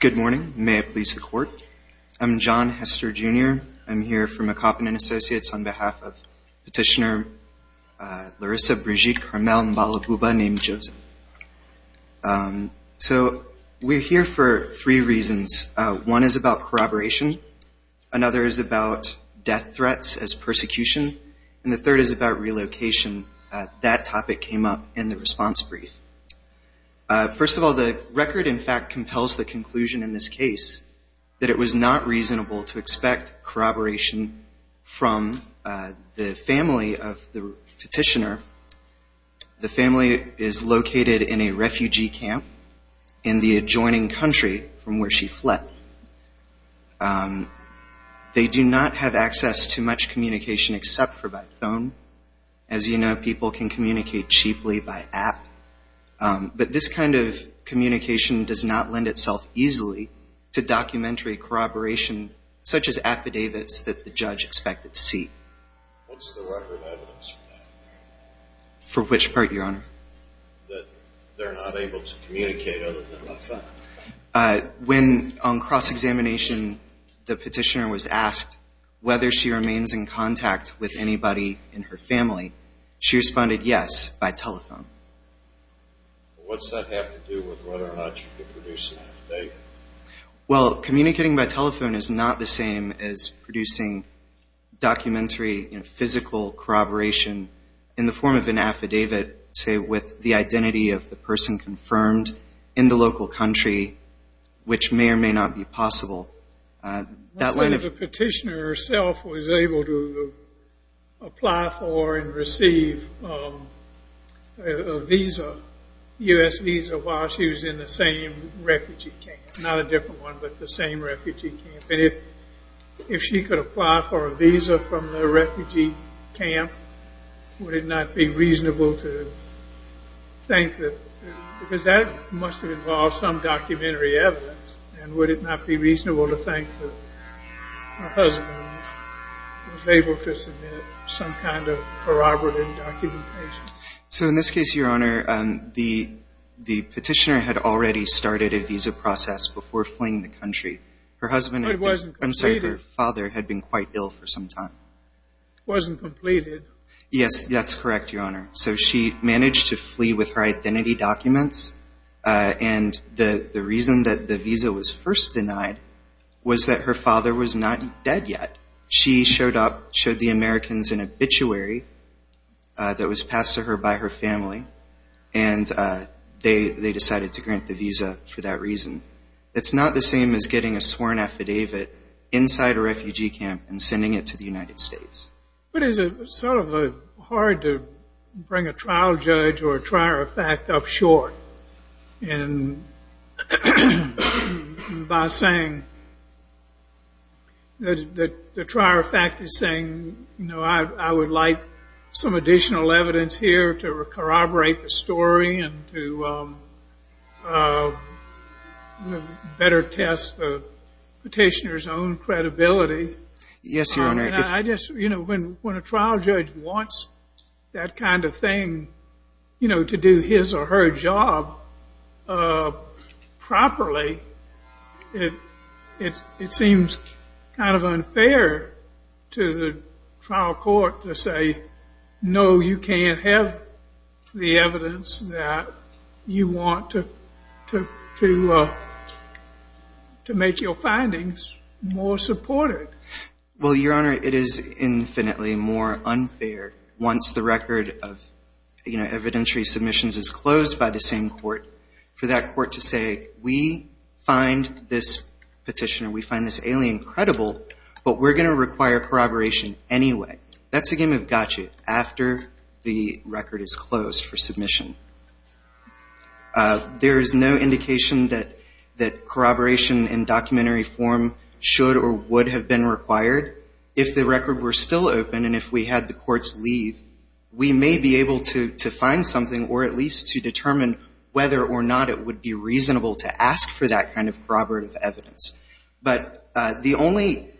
Good morning. May it please the court. I'm John Hester, Jr. I'm here for McCoppen & Associates on behalf of Petitioner Larissa Brigitte Carmel Mballa Bouba Nee Joseph. So we're here for three reasons. One is about corroboration. Another is about death threats as persecution. And the third is about relocation. That topic came up in the response brief. First of all, the record in fact compels the conclusion in this case that it was not reasonable to expect corroboration from the family of the petitioner. The family is located in a refugee camp in the adjoining country from where she fled. They do not have access to much communication except for by phone. As you know, people can communicate cheaply by app. But this kind of communication does not lend itself easily to documentary corroboration such as affidavits that the judge expected to see. What's the record of evidence for that? For which part, Your Honor? That they're not able to communicate other than by phone. When on cross-examination the petitioner was asked whether she remains in contact with anybody in her family, she responded yes by telephone. What's that have to do with whether or not you could produce an affidavit? Well, communicating by telephone is not the same as producing documentary physical corroboration in the form of an affidavit, say, with the identity of the person confirmed in the local country, which may or may not be possible. The petitioner herself was able to apply for and receive a U.S. visa while she was in the same refugee camp. Not a different one, but the same refugee camp. If she could apply for a visa from the refugee camp, would it not be reasonable to think that, because that must have involved some documentary evidence, and would it not be reasonable to think that her husband was able to submit some kind of corroborative documentation? So in this case, Your Honor, the petitioner had already started a visa process before fleeing the country. But it wasn't completed. I'm sorry, her father had been quite ill for some time. It wasn't completed. Yes, that's correct, Your Honor. So she managed to flee with her identity documents, and the reason that the visa was first denied was that her father was not dead yet. She showed up, showed the Americans an obituary that was passed to her by her family, and they decided to grant the visa for that reason. It's not the same as getting a sworn affidavit inside a refugee camp and sending it to the United States. But is it sort of hard to bring a trial judge or a trier of fact up short by saying that the trier of fact is saying, you know, I would like some additional evidence here to corroborate the story and to better test the petitioner's own credibility? Yes, Your Honor. When a trial judge wants that kind of thing, you know, to do his or her job properly, it seems kind of unfair to the trial court to say, no, you can't have the evidence that you want to make your findings more supported. Well, Your Honor, it is infinitely more unfair once the record of evidentiary submissions is closed by the same court, for that court to say, we find this petitioner, we find this alien credible, but we're going to require corroboration anyway. That's a game of gotcha after the record is closed for submission. There is no indication that corroboration in documentary form should or would have been required. If the record were still open and if we had the courts leave, we may be able to find something or at least to determine whether or not it would be reasonable to ask for that kind of corroborative evidence. But the only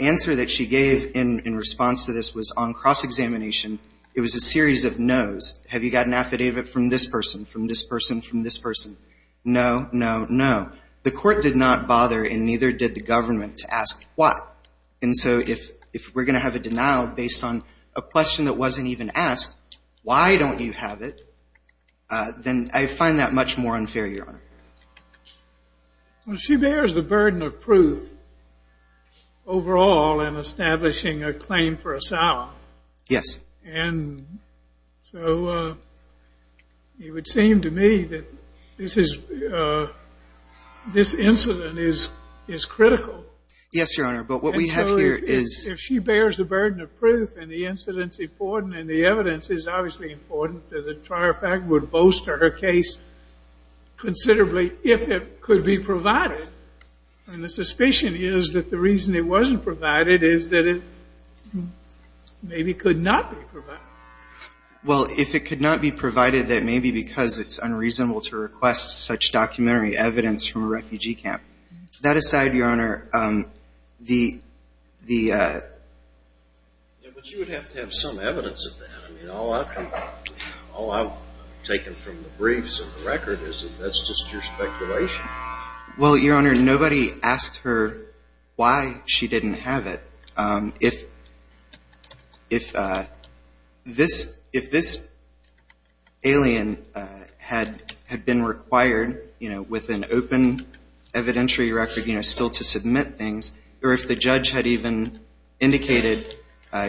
answer that she gave in response to this was on cross-examination. It was a series of no's. Have you got an affidavit from this person, from this person, from this person? No, no, no. The court did not bother and neither did the government to ask why. And so if we're going to have a denial based on a question that wasn't even asked, why don't you have it, then I find that much more unfair, Your Honor. Well, she bears the burden of proof overall in establishing a claim for asylum. Yes. And so it would seem to me that this incident is critical. Yes, Your Honor, but what we have here is... And so if she bears the burden of proof and the incident's important and the evidence is obviously important, then the trial fact would bolster her case considerably if it could be provided. And the suspicion is that the reason it wasn't provided is that it maybe could not be provided. Well, if it could not be provided, then maybe because it's unreasonable to request such documentary evidence from a refugee camp. That aside, Your Honor, the... Yeah, but you would have to have some evidence of that. I mean, all I've taken from the briefs and the record is that that's just your speculation. Well, Your Honor, nobody asked her why she didn't have it. If this alien had been required with an open evidentiary record still to submit things or if the judge had even indicated,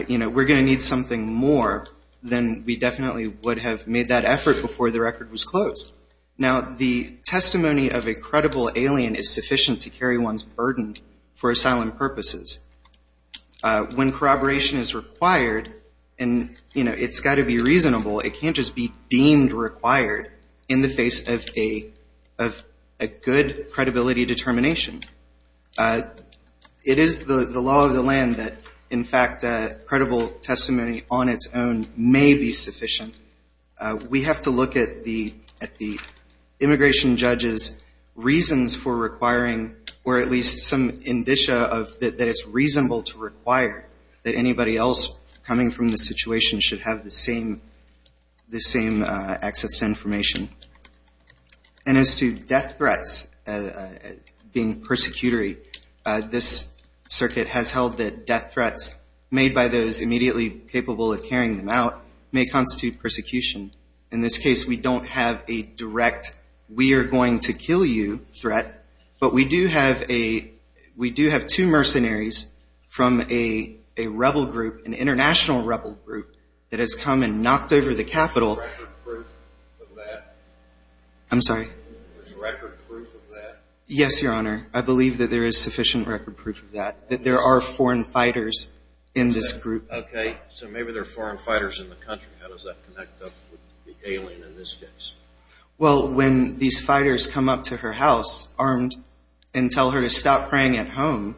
you know, we're going to need something more, then we definitely would have made that effort before the record was closed. Now, the testimony of a credible alien is sufficient to carry one's burden for asylum purposes. When corroboration is required, and, you know, it's got to be reasonable, it can't just be deemed required in the face of a good credibility determination. It is the law of the land that, in fact, credible testimony on its own may be sufficient. We have to look at the immigration judge's reasons for requiring or at least some indicia that it's reasonable to require that anybody else coming from the situation should have the same access to information. And as to death threats being persecutory, this circuit has held that death threats made by those immediately capable of carrying them out may constitute persecution. In this case, we don't have a direct we are going to kill you threat, but we do have two mercenaries from a rebel group, an international rebel group, that has come and knocked over the Capitol. Is there record proof of that? I'm sorry? Is there record proof of that? Yes, Your Honor. I believe that there is sufficient record proof of that, that there are foreign fighters in this group. Okay. So maybe there are foreign fighters in the country. How does that connect up with the alien in this case? Well, when these fighters come up to her house armed and tell her to stop praying at home,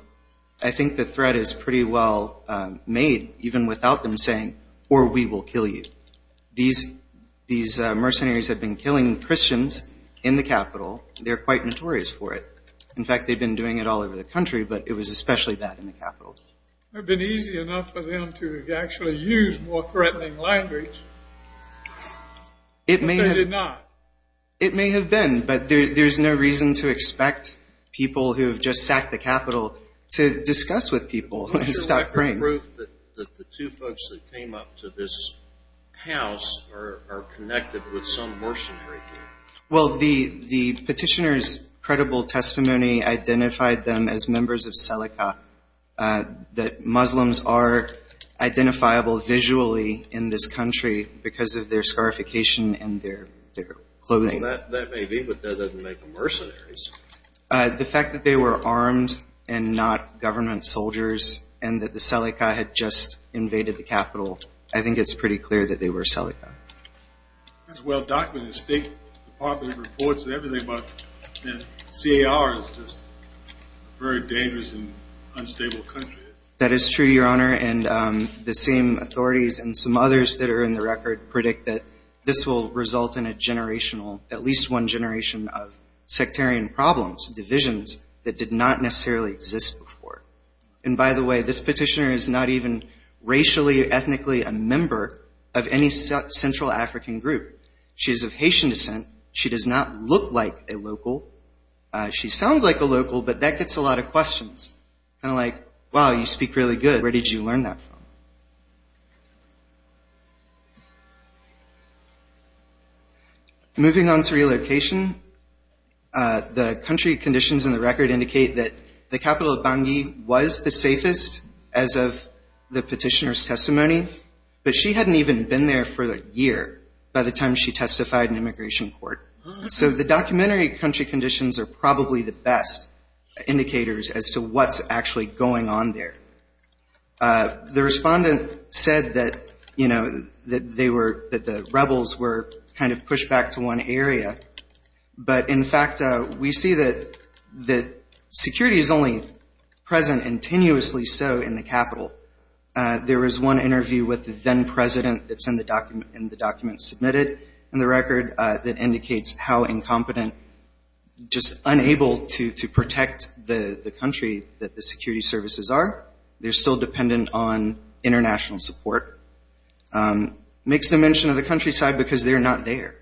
I think the threat is pretty well made, even without them saying, or we will kill you. These mercenaries have been killing Christians in the Capitol. They're quite notorious for it. In fact, they've been doing it all over the country, but it was especially bad in the Capitol. It would have been easy enough for them to actually use more threatening language. But they did not. It may have been, but there's no reason to expect people who have just sacked the Capitol to discuss with people and stop praying. Is there record proof that the two folks that came up to this house are connected with some mercenary here? Well, the petitioner's credible testimony identified them as members of SELICA, that Muslims are identifiable visually in this country because of their scarification and their clothing. That may be, but that doesn't make them mercenaries. The fact that they were armed and not government soldiers and that the SELICA had just invaded the Capitol, I think it's pretty clear that they were SELICA. That's well documented. State Department reports and everything, but CAR is just a very dangerous and unstable country. That is true, Your Honor. And the same authorities and some others that are in the record predict that this will result in a generational, at least one generation of sectarian problems, divisions that did not necessarily exist before. And by the way, this petitioner is not even racially or ethnically a member of any central African group. She is of Haitian descent. She does not look like a local. She sounds like a local, but that gets a lot of questions. Kind of like, wow, you speak really good. Where did you learn that from? Moving on to relocation, the country conditions in the record indicate that the capital of Bangui was the safest as of the petitioner's testimony, but she hadn't even been there for a year by the time she testified in immigration court. So the documentary country conditions are probably the best indicators as to what's actually going on there. The respondent said that the rebels were kind of pushed back to one area, but in fact we see that security is only present and tenuously so in the capital. There was one interview with the then president that's in the document submitted in the record that indicates how incompetent, just unable to protect the country that the security services are. They're still dependent on international support. Makes no mention of the countryside because they're not there.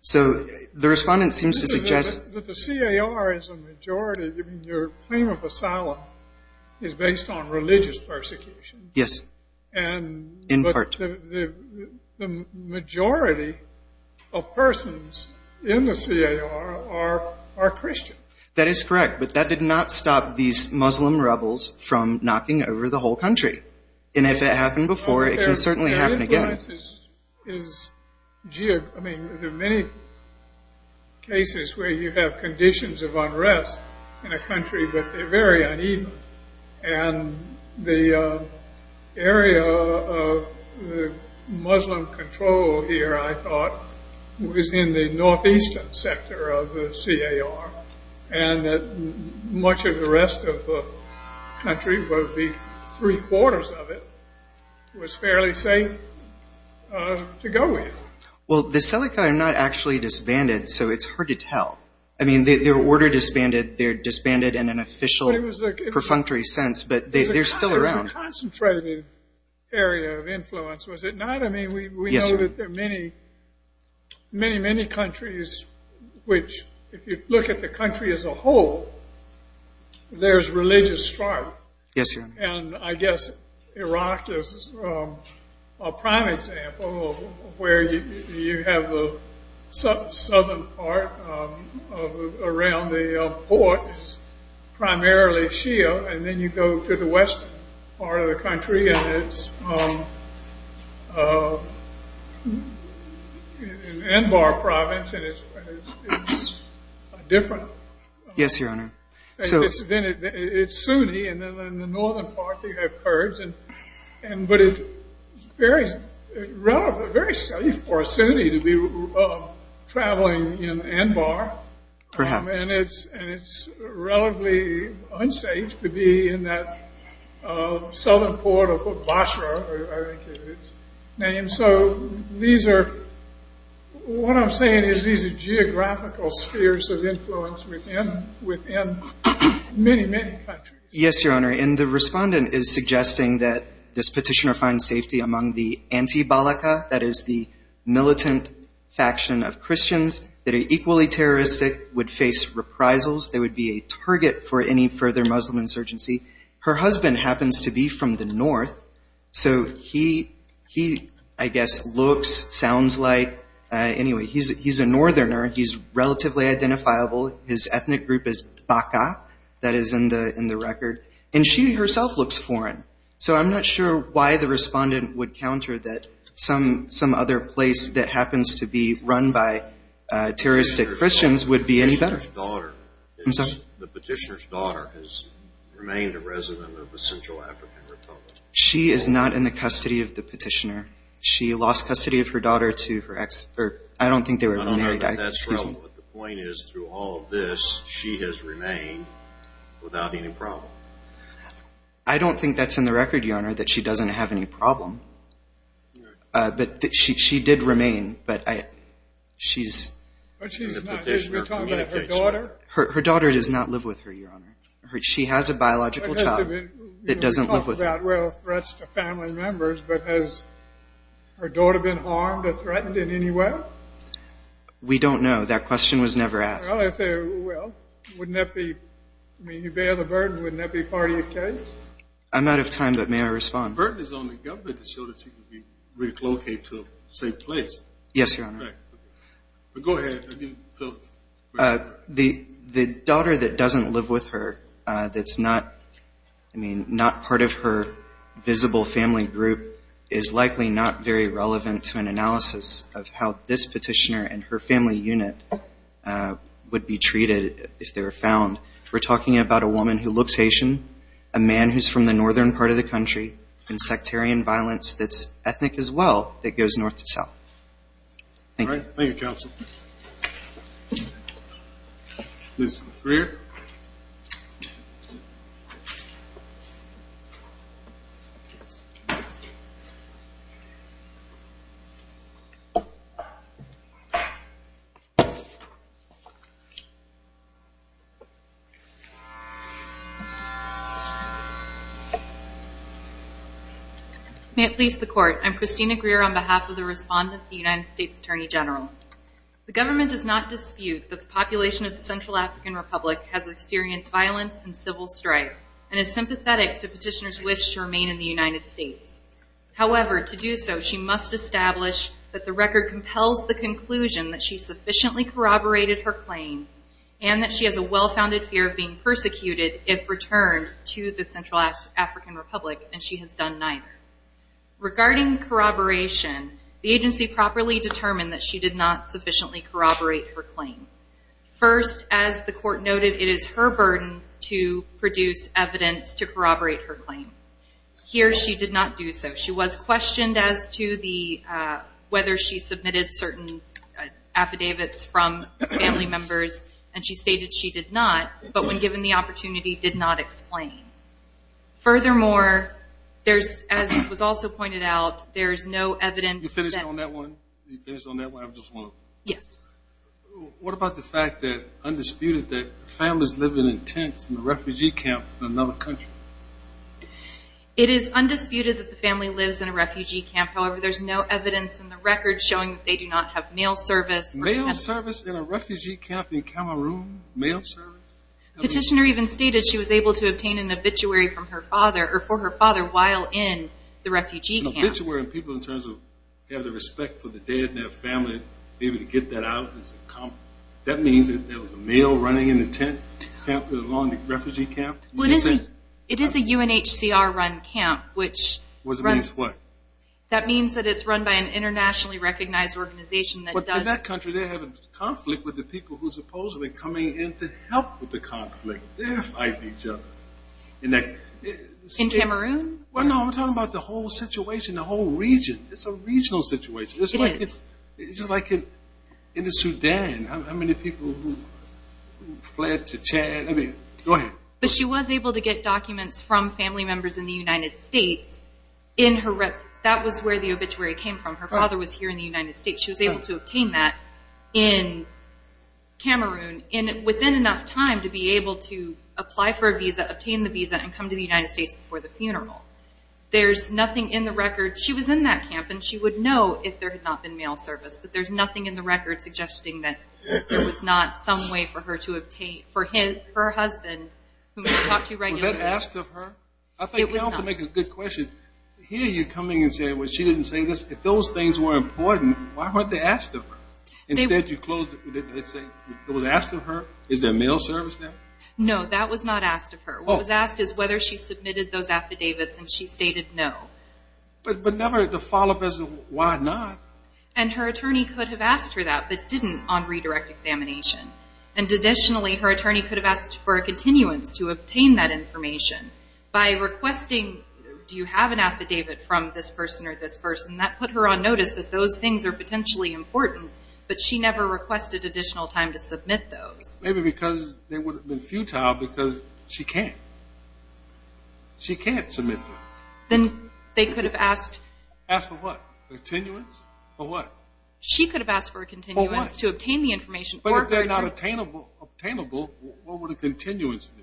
So the respondent seems to suggest- But the CAR is a majority. I mean, your claim of asylum is based on religious persecution. Yes, in part. The majority of persons in the CAR are Christian. That is correct, but that did not stop these Muslim rebels from knocking over the whole country. And if it happened before, it can certainly happen again. There are many cases where you have conditions of unrest in a country, but they're very uneven. And the area of Muslim control here, I thought, was in the northeastern sector of the CAR. And much of the rest of the country, well, three-quarters of it, was fairly safe to go with. Well, the Seleka are not actually disbanded, so it's hard to tell. I mean, they were disbanded in an official, perfunctory sense, but they're still around. It was a concentrated area of influence, was it not? I mean, we know that there are many, many, many countries which, if you look at the country as a whole, there's religious strife. Yes, sir. And I guess Iraq is a prime example of where you have the southern part around the port is primarily Shia, and then you go to the western part of the country, and it's an Anbar province, and it's different. Yes, Your Honor. It's Sunni, and then in the northern part, you have Kurds. But it's very safe for a Sunni to be traveling in Anbar. Perhaps. And it's relatively unsafe to be in that southern port of Basra, I think is its name. And so what I'm saying is these are geographical spheres of influence within many, many countries. Yes, Your Honor. And the respondent is suggesting that this petitioner finds safety among the anti-balaka, that is the militant faction of Christians that are equally terroristic, would face reprisals, they would be a target for any further Muslim insurgency. Her husband happens to be from the north, so he, I guess, looks, sounds like, anyway, he's a northerner. He's relatively identifiable. His ethnic group is Baka, that is in the record, and she herself looks foreign. So I'm not sure why the respondent would counter that some other place that happens to be run by terroristic Christians would be any better. I'm sorry? The petitioner's daughter has remained a resident of the Central African Republic. She is not in the custody of the petitioner. She lost custody of her daughter to her ex. I don't think they were reneged. Your Honor, that's wrong. The point is, through all of this, she has remained without any problem. I don't think that's in the record, Your Honor, that she doesn't have any problem. But she did remain, but she's in the petitioner's communication. Her daughter? Her daughter does not live with her, Your Honor. She has a biological child that doesn't live with her. You talk about, well, threats to family members, but has her daughter been harmed or threatened in any way? We don't know. That question was never asked. Well, wouldn't that be, I mean, you bear the burden, wouldn't that be part of your case? I'm out of time, but may I respond? The burden is on the government to show that she can be relocated to a safe place. Yes, Your Honor. Go ahead. The daughter that doesn't live with her, that's not part of her visible family group, is likely not very relevant to an analysis of how this petitioner and her family unit would be treated if they were found. We're talking about a woman who looks Haitian, a man who's from the northern part of the country, and sectarian violence that's ethnic as well that goes north to south. Thank you. Thank you, counsel. Ms. Greer? May it please the Court. I'm Christina Greer on behalf of the respondent, the United States Attorney General. The government does not dispute that the population of the Central African Republic has experienced violence and civil strife and is sympathetic to petitioners' wish to remain in the United States. However, to do so, she must establish that the record compels the conclusion that she sufficiently corroborated her claim and that she has a well-founded fear of being persecuted if returned to the Central African Republic, and she has done neither. Regarding corroboration, the agency properly determined that she did not sufficiently corroborate her claim. First, as the Court noted, it is her burden to produce evidence to corroborate her claim. Here, she did not do so. She was questioned as to whether she submitted certain affidavits from family members, and she stated she did not, but when given the opportunity, did not explain. Furthermore, as was also pointed out, there is no evidence that... You finished on that one? You finished on that one? I just want to... Yes. What about the fact that, undisputed, that families live in tents in a refugee camp in another country? It is undisputed that the family lives in a refugee camp. However, there is no evidence in the record showing that they do not have mail service. Mail service in a refugee camp in Cameroon? Mail service? Petitioner even stated she was able to obtain an obituary from her father, or for her father, while in the refugee camp. An obituary in terms of having the respect for the dead and their family, being able to get that out. That means that there was a mail running in the tent along the refugee camp? It is a UNHCR-run camp, which runs... Which means what? That means that it's run by an internationally recognized organization that does... They fight each other. In Cameroon? No, I'm talking about the whole situation, the whole region. It's a regional situation. It is. It's like in Sudan. How many people fled to... Go ahead. But she was able to get documents from family members in the United States. That was where the obituary came from. Her father was here in the United States. She was able to obtain that in Cameroon. And within enough time to be able to apply for a visa, obtain the visa, and come to the United States before the funeral. There's nothing in the record. She was in that camp, and she would know if there had not been mail service. But there's nothing in the record suggesting that there was not some way for her to obtain, for her husband, whom she talked to regularly. Was that asked of her? I think you also make a good question. Here you're coming and saying, well, she didn't say this. If those things were important, why weren't they asked of her? Instead you closed it. It was asked of her? Is there mail service now? No, that was not asked of her. What was asked is whether she submitted those affidavits, and she stated no. But never to follow up as to why not. And her attorney could have asked her that, but didn't on redirect examination. And additionally, her attorney could have asked for a continuance to obtain that information. By requesting, do you have an affidavit from this person or this person, that put her on notice that those things are potentially important, but she never requested additional time to submit those. Maybe because they would have been futile because she can't. She can't submit them. Then they could have asked. Asked for what? A continuance? For what? She could have asked for a continuance to obtain the information. But if they're not obtainable, what would a continuance do?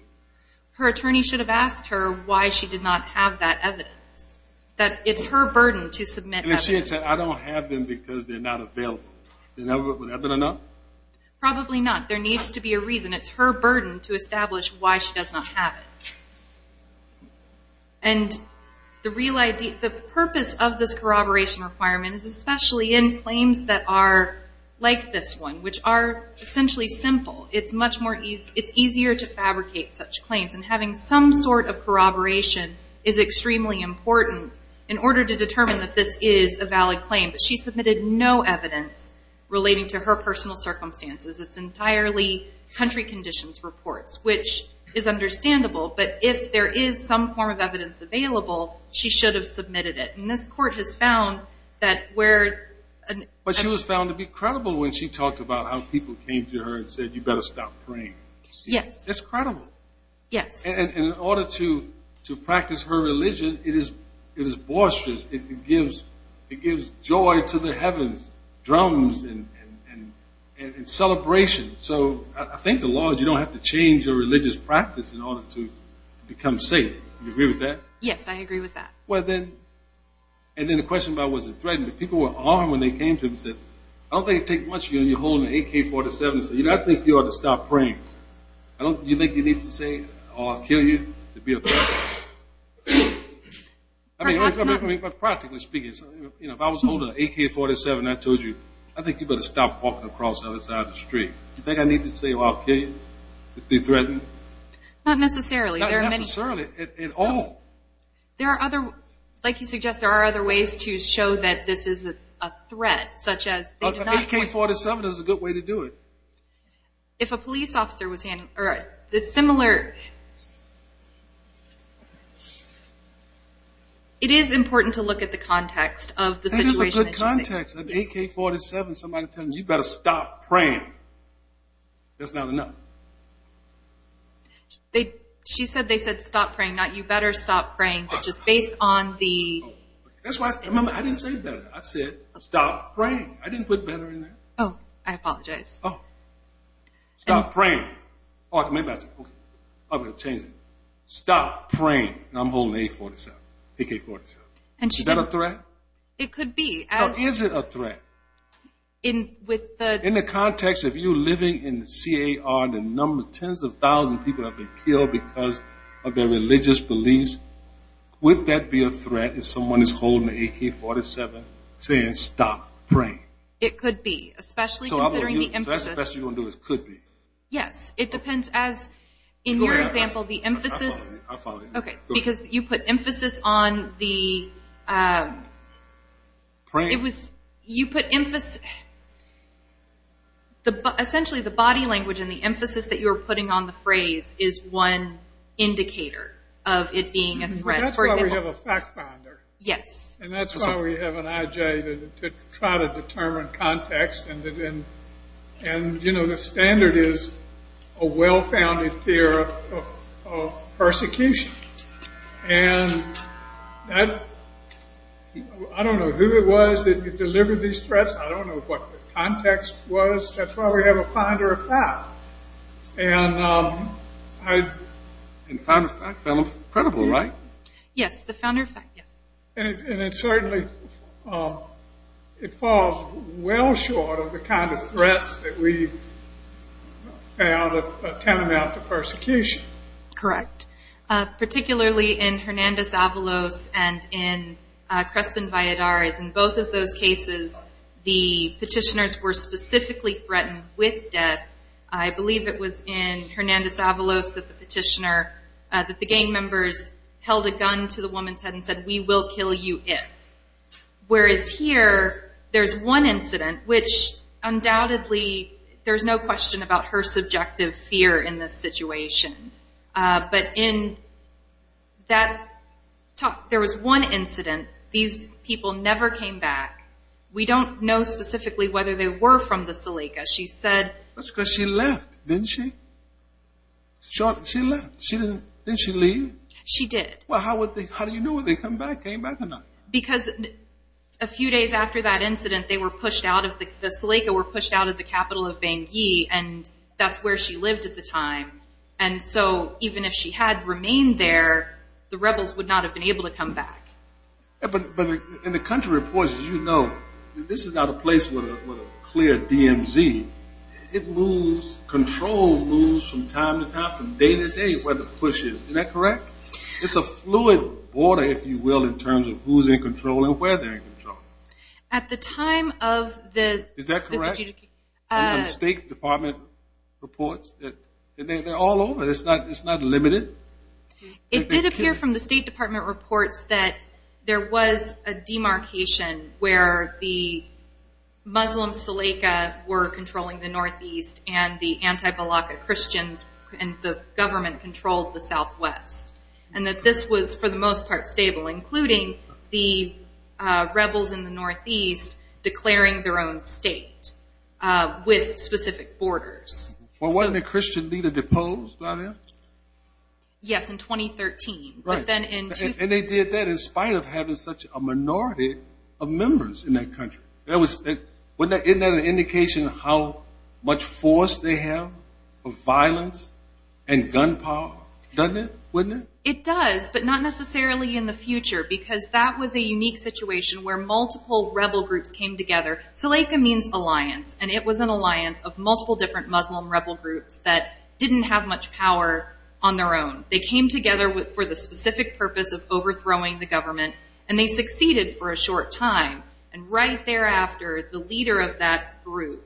Her attorney should have asked her why she did not have that evidence. That it's her burden to submit evidence. And if she had said, I don't have them because they're not available, would that have been enough? Probably not. There needs to be a reason. It's her burden to establish why she does not have it. And the purpose of this corroboration requirement is especially in claims that are like this one, which are essentially simple. It's easier to fabricate such claims. And having some sort of corroboration is extremely important in order to determine that this is a valid claim. But she submitted no evidence relating to her personal circumstances. It's entirely country conditions reports, which is understandable. But if there is some form of evidence available, she should have submitted it. And this court has found that where an ---- But she was found to be credible when she talked about how people came to her and said, you better stop praying. Yes. That's credible. Yes. And in order to practice her religion, it is boisterous. It gives joy to the heavens, drums and celebration. So I think the law is you don't have to change your religious practice in order to become safe. Do you agree with that? Yes, I agree with that. And then the question about was it threatened. People were armed when they came to her and said, I don't think it will take much of you to be holding an AK-47 and say, I think you ought to stop praying. You think you need to say, oh, I'll kill you, to be a threat? I mean, practically speaking, if I was holding an AK-47 and I told you, I think you better stop walking across the other side of the street. You think I need to say, oh, I'll kill you, to be threatened? Not necessarily. Not necessarily at all. There are other, like you suggest, there are other ways to show that this is a threat, such as AK-47 is a good way to do it. If a police officer was handing, or a similar, it is important to look at the context of the situation. That is a good context. An AK-47, somebody telling you, you better stop praying. That's not enough. She said they said stop praying, not you better stop praying, but just based on the. That's why, remember, I didn't say better. I said stop praying. I didn't put better in there. Oh, I apologize. Oh, stop praying. Or maybe I said, okay, I'm going to change it. Stop praying. And I'm holding an AK-47. Is that a threat? It could be. Is it a threat? In the context of you living in the CAR, the number of tens of thousands of people have been killed because of their religious beliefs, would that be a threat if someone is holding an AK-47 saying stop praying? It could be, especially considering the emphasis. So that's the best you're going to do is could be. Yes. It depends as, in your example, the emphasis. I'll follow you. Okay. Because you put emphasis on the. Prayers. Essentially, the body language and the emphasis that you were putting on the phrase is one indicator of it being a threat. That's why we have a fact finder. Yes. And that's why we have an IJ to try to determine context. And, you know, the standard is a well-founded fear of persecution. And I don't know who it was that delivered these threats. I don't know what the context was. That's why we have a finder of fact. And the finder of fact felt incredible, right? Yes, the founder of fact, yes. And it certainly falls well short of the kind of threats that we found tantamount to persecution. Correct. Particularly in Hernandez Avalos and in Crespin Valladares, in both of those cases, the petitioners were specifically threatened with death. I believe it was in Hernandez Avalos that the petitioner, that the gang members, held a gun to the woman's head and said, we will kill you if. Whereas here, there's one incident, which undoubtedly, there's no question about her subjective fear in this situation. But in that talk, there was one incident. These people never came back. We don't know specifically whether they were from the Salika. She said. That's because she left, didn't she? She left. Didn't she leave? She did. Well, how do you know if they came back or not? Because a few days after that incident, the Salika were pushed out of the capital of Bangui, and that's where she lived at the time. And so even if she had remained there, the rebels would not have been able to come back. But in the country reports, as you know, this is not a place with a clear DMZ. It moves, control moves from time to time, from day to day, where the push is. Is that correct? It's a fluid order, if you will, in terms of who's in control and where they're in control. At the time of the... Is that correct? State Department reports? They're all over. It's not limited. It did appear from the State Department reports that there was a demarcation where the Muslim Salika were controlling the northeast and the anti-Balaka Christians and the government controlled the southwest, and that this was for the most part stable, including the rebels in the northeast declaring their own state with specific borders. Well, wasn't the Christian leader deposed by then? Yes, in 2013. But then in... And they did that in spite of having such a minority of members in that country. Isn't that an indication of how much force they have of violence and gun power? Doesn't it? Wouldn't it? It does, but not necessarily in the future, because that was a unique situation where multiple rebel groups came together. Salika means alliance, and it was an alliance of multiple different Muslim rebel groups that didn't have much power on their own. They came together for the specific purpose of overthrowing the government, and they succeeded for a short time. And right thereafter, the leader of that group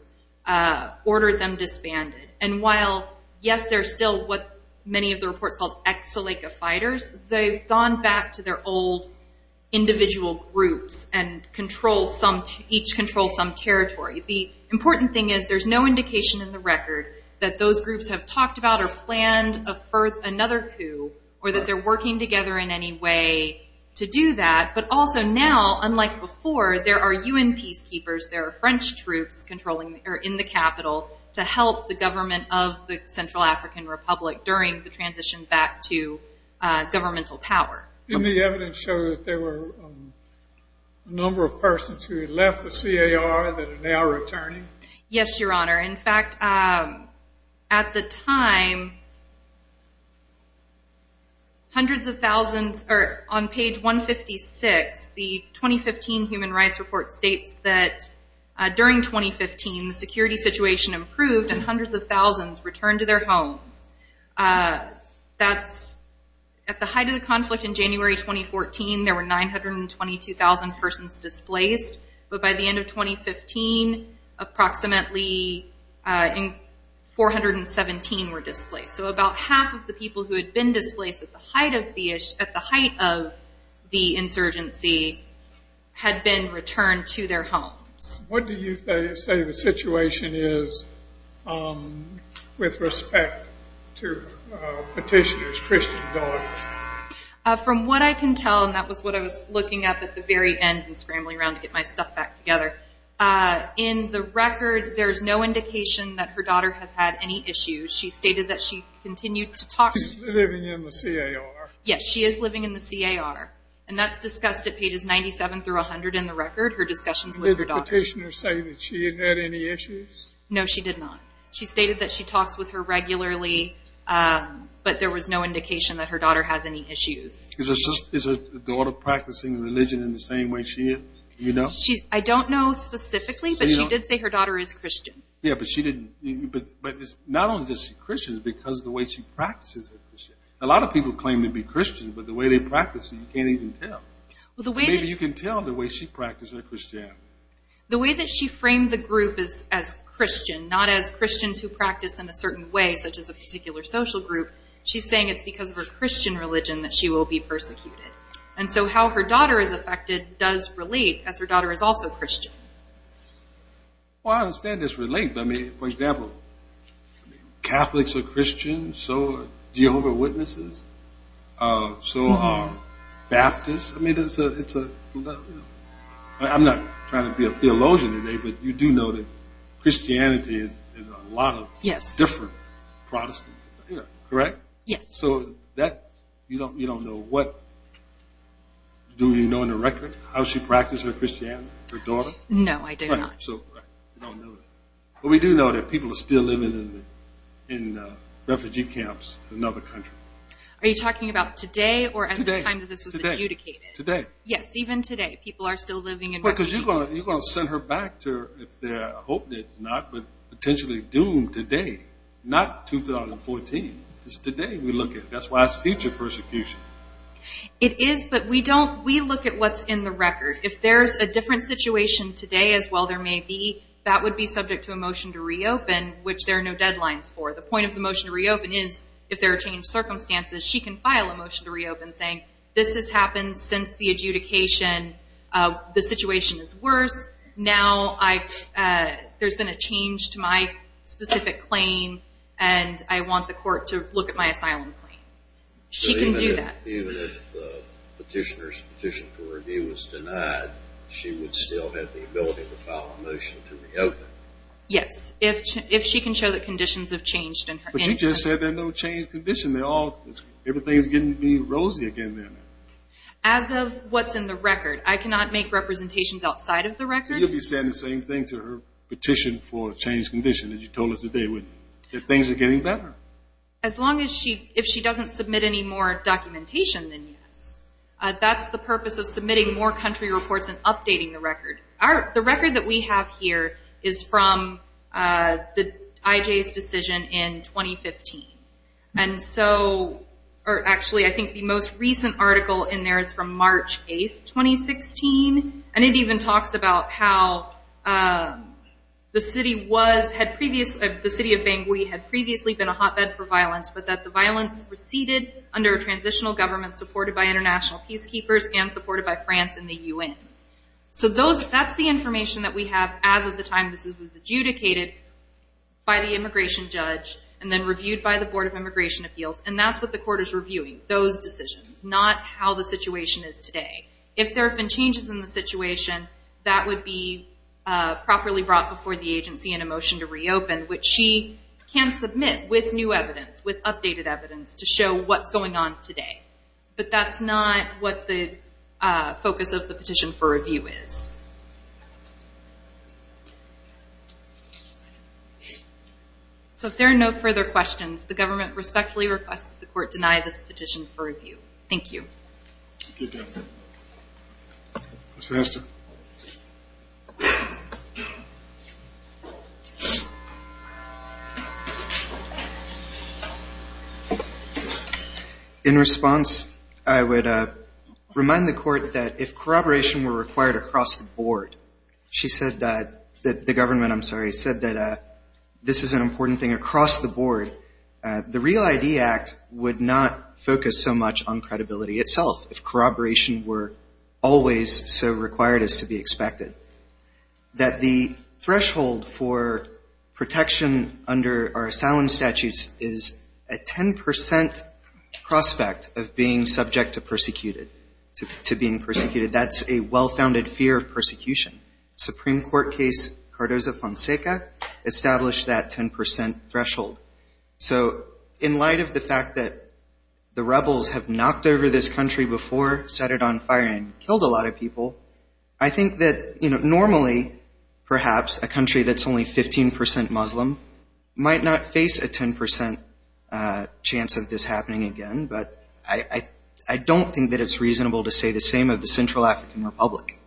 ordered them disbanded. And while, yes, they're still what many of the reports called ex-Salika fighters, they've gone back to their old individual groups and each controls some territory. The important thing is there's no indication in the record that those groups have talked about or planned another coup or that they're working together in any way to do that. But also now, unlike before, there are U.N. peacekeepers, there are French troops in the capital to help the government of the Central African Republic during the transition back to governmental power. Didn't the evidence show that there were a number of persons who had left the CAR that are now returning? Yes, Your Honor. In fact, at the time, on page 156, the 2015 Human Rights Report states that during 2015, the security situation improved and hundreds of thousands returned to their homes. At the height of the conflict in January 2014, there were 922,000 persons displaced. But by the end of 2015, approximately 417 were displaced. So about half of the people who had been displaced at the height of the insurgency had been returned to their homes. What do you say the situation is with respect to petitioners, Christian daughters? From what I can tell, and that was what I was looking at at the very end and scrambling around to get my stuff back together, in the record there's no indication that her daughter has had any issues. She stated that she continued to talk. She's living in the CAR. Yes, she is living in the CAR. And that's discussed at pages 97 through 100 in the record, her discussions with her daughter. Did the petitioner say that she had had any issues? No, she did not. She stated that she talks with her regularly, but there was no indication that her daughter has any issues. Is her daughter practicing religion in the same way she is? I don't know specifically, but she did say her daughter is Christian. Yeah, but not only is she Christian, it's because of the way she practices it. A lot of people claim to be Christian, but the way they practice it, you can't even tell. Maybe you can tell the way she practices her Christianity. The way that she framed the group as Christian, not as Christians who practice in a certain way, such as a particular social group, she's saying it's because of her Christian religion that she will be persecuted. And so how her daughter is affected does relate, as her daughter is also Christian. Well, I understand it's related. I mean, for example, Catholics are Christian, so are Jehovah's Witnesses, so are Baptists. I'm not trying to be a theologian today, but you do know that Christianity is a lot of different Protestant things, correct? Yes. So you don't know what, do you know on the record how she practices her Christianity, her daughter? No, I do not. Right, so you don't know that. But we do know that people are still living in refugee camps in other countries. Are you talking about today or at the time that this was adjudicated? Today. Yes, even today people are still living in refugee camps. Because you're going to send her back to, I hope it's not, but potentially doomed today, not 2014. It's today we look at it. That's why it's future persecution. It is, but we look at what's in the record. If there's a different situation today as well there may be, that would be subject to a motion to reopen, which there are no deadlines for. The point of the motion to reopen is if there are changed circumstances she can file a motion to reopen saying, this has happened since the adjudication, the situation is worse, now there's been a change to my specific claim and I want the court to look at my asylum claim. She can do that. Even if the petitioner's petition for review was denied, she would still have the ability to file a motion to reopen? Yes, if she can show that conditions have changed. But you just said there are no changed conditions. Everything is getting to be rosy again now. As of what's in the record, I cannot make representations outside of the record. You'll be saying the same thing to her petition for a changed condition, as you told us today, that things are getting better. As long as she, if she doesn't submit any more documentation, then yes. That's the purpose of submitting more country reports and updating the record. The record that we have here is from the IJ's decision in 2015. Actually, I think the most recent article in there is from March 8th, 2016, and it even talks about how the city of Bangui had previously been a hotbed for violence, but that the violence receded under a transitional government supported by international peacekeepers and supported by France and the UN. So that's the information that we have as of the time this was adjudicated by the immigration judge and then reviewed by the Board of Immigration Appeals, and that's what the court is reviewing, those decisions, not how the situation is today. If there have been changes in the situation, that would be properly brought before the agency in a motion to reopen, which she can submit with new evidence, with updated evidence, to show what's going on today. But that's not what the focus of the petition for review is. So if there are no further questions, the government respectfully requests that the court deny this petition for review. Thank you. Thank you, captain. Mr. Hester. In response, I would remind the court that if corroboration were required across the board, she said that the government, I'm sorry, said that this is an important thing across the board, that the REAL-ID Act would not focus so much on credibility itself if corroboration were always so required as to be expected, that the threshold for protection under our asylum statutes is a 10 percent prospect of being subject to being persecuted. Supreme Court case Cardozo-Fonseca established that 10 percent threshold. So in light of the fact that the rebels have knocked over this country before, set it on fire, and killed a lot of people, I think that normally, perhaps, a country that's only 15 percent Muslim might not face a 10 percent chance of this happening again. But I don't think that it's reasonable to say the same of the Central African Republic.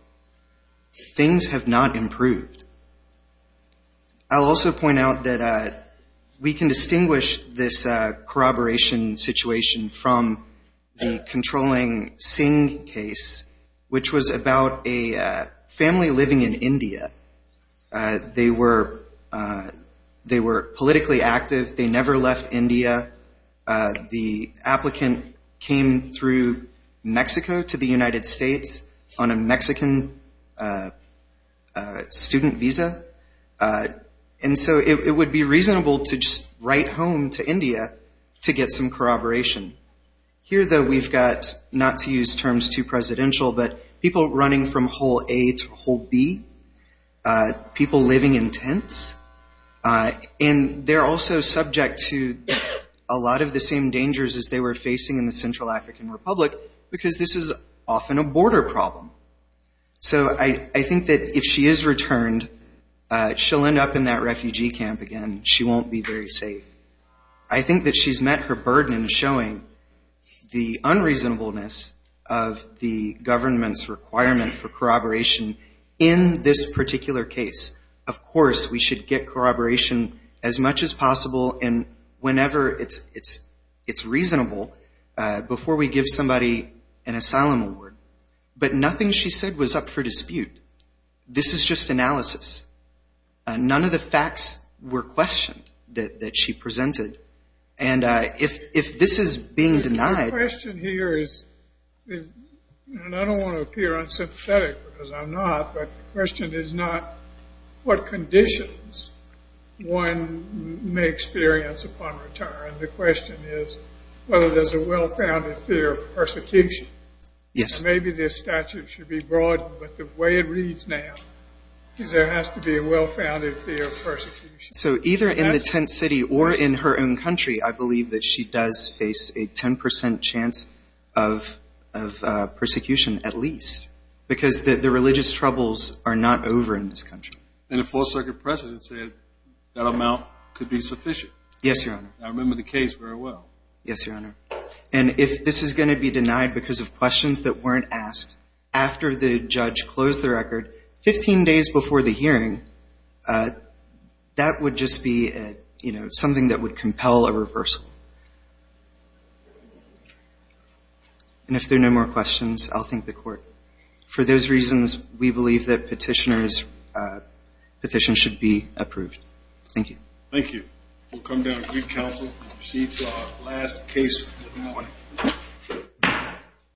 Things have not improved. I'll also point out that we can distinguish this corroboration situation from the controlling Singh case, which was about a family living in India. They were politically active. They never left India. The applicant came through Mexico to the United States on a Mexican student visa. And so it would be reasonable to just write home to India to get some corroboration. Here, though, we've got, not to use terms too presidential, but people running from hole A to hole B, people living in tents. And they're also subject to a lot of the same dangers as they were facing in the Central African Republic, because this is often a border problem. So I think that if she is returned, she'll end up in that refugee camp again. She won't be very safe. I think that she's met her burden in showing the unreasonableness of the government's requirement for corroboration in this particular case. Of course, we should get corroboration as much as possible, and whenever it's reasonable, before we give somebody an asylum award. But nothing she said was up for dispute. This is just analysis. None of the facts were questioned that she presented. And if this is being denied— And I don't want to appear unsympathetic, because I'm not, but the question is not what conditions one may experience upon retirement. The question is whether there's a well-founded fear of persecution. Maybe this statute should be broadened, but the way it reads now is there has to be a well-founded fear of persecution. So either in the tent city or in her own country, I believe that she does face a 10 percent chance of persecution, at least, because the religious troubles are not over in this country. And the Fourth Circuit precedent said that amount could be sufficient. Yes, Your Honor. I remember the case very well. Yes, Your Honor. And if this is going to be denied because of questions that weren't asked after the judge closed the record, 15 days before the hearing, that would just be something that would compel a reversal. And if there are no more questions, I'll thank the Court. For those reasons, we believe that petitioners' petition should be approved. Thank you. Thank you. We'll come down to the Council and proceed to our last case for the morning.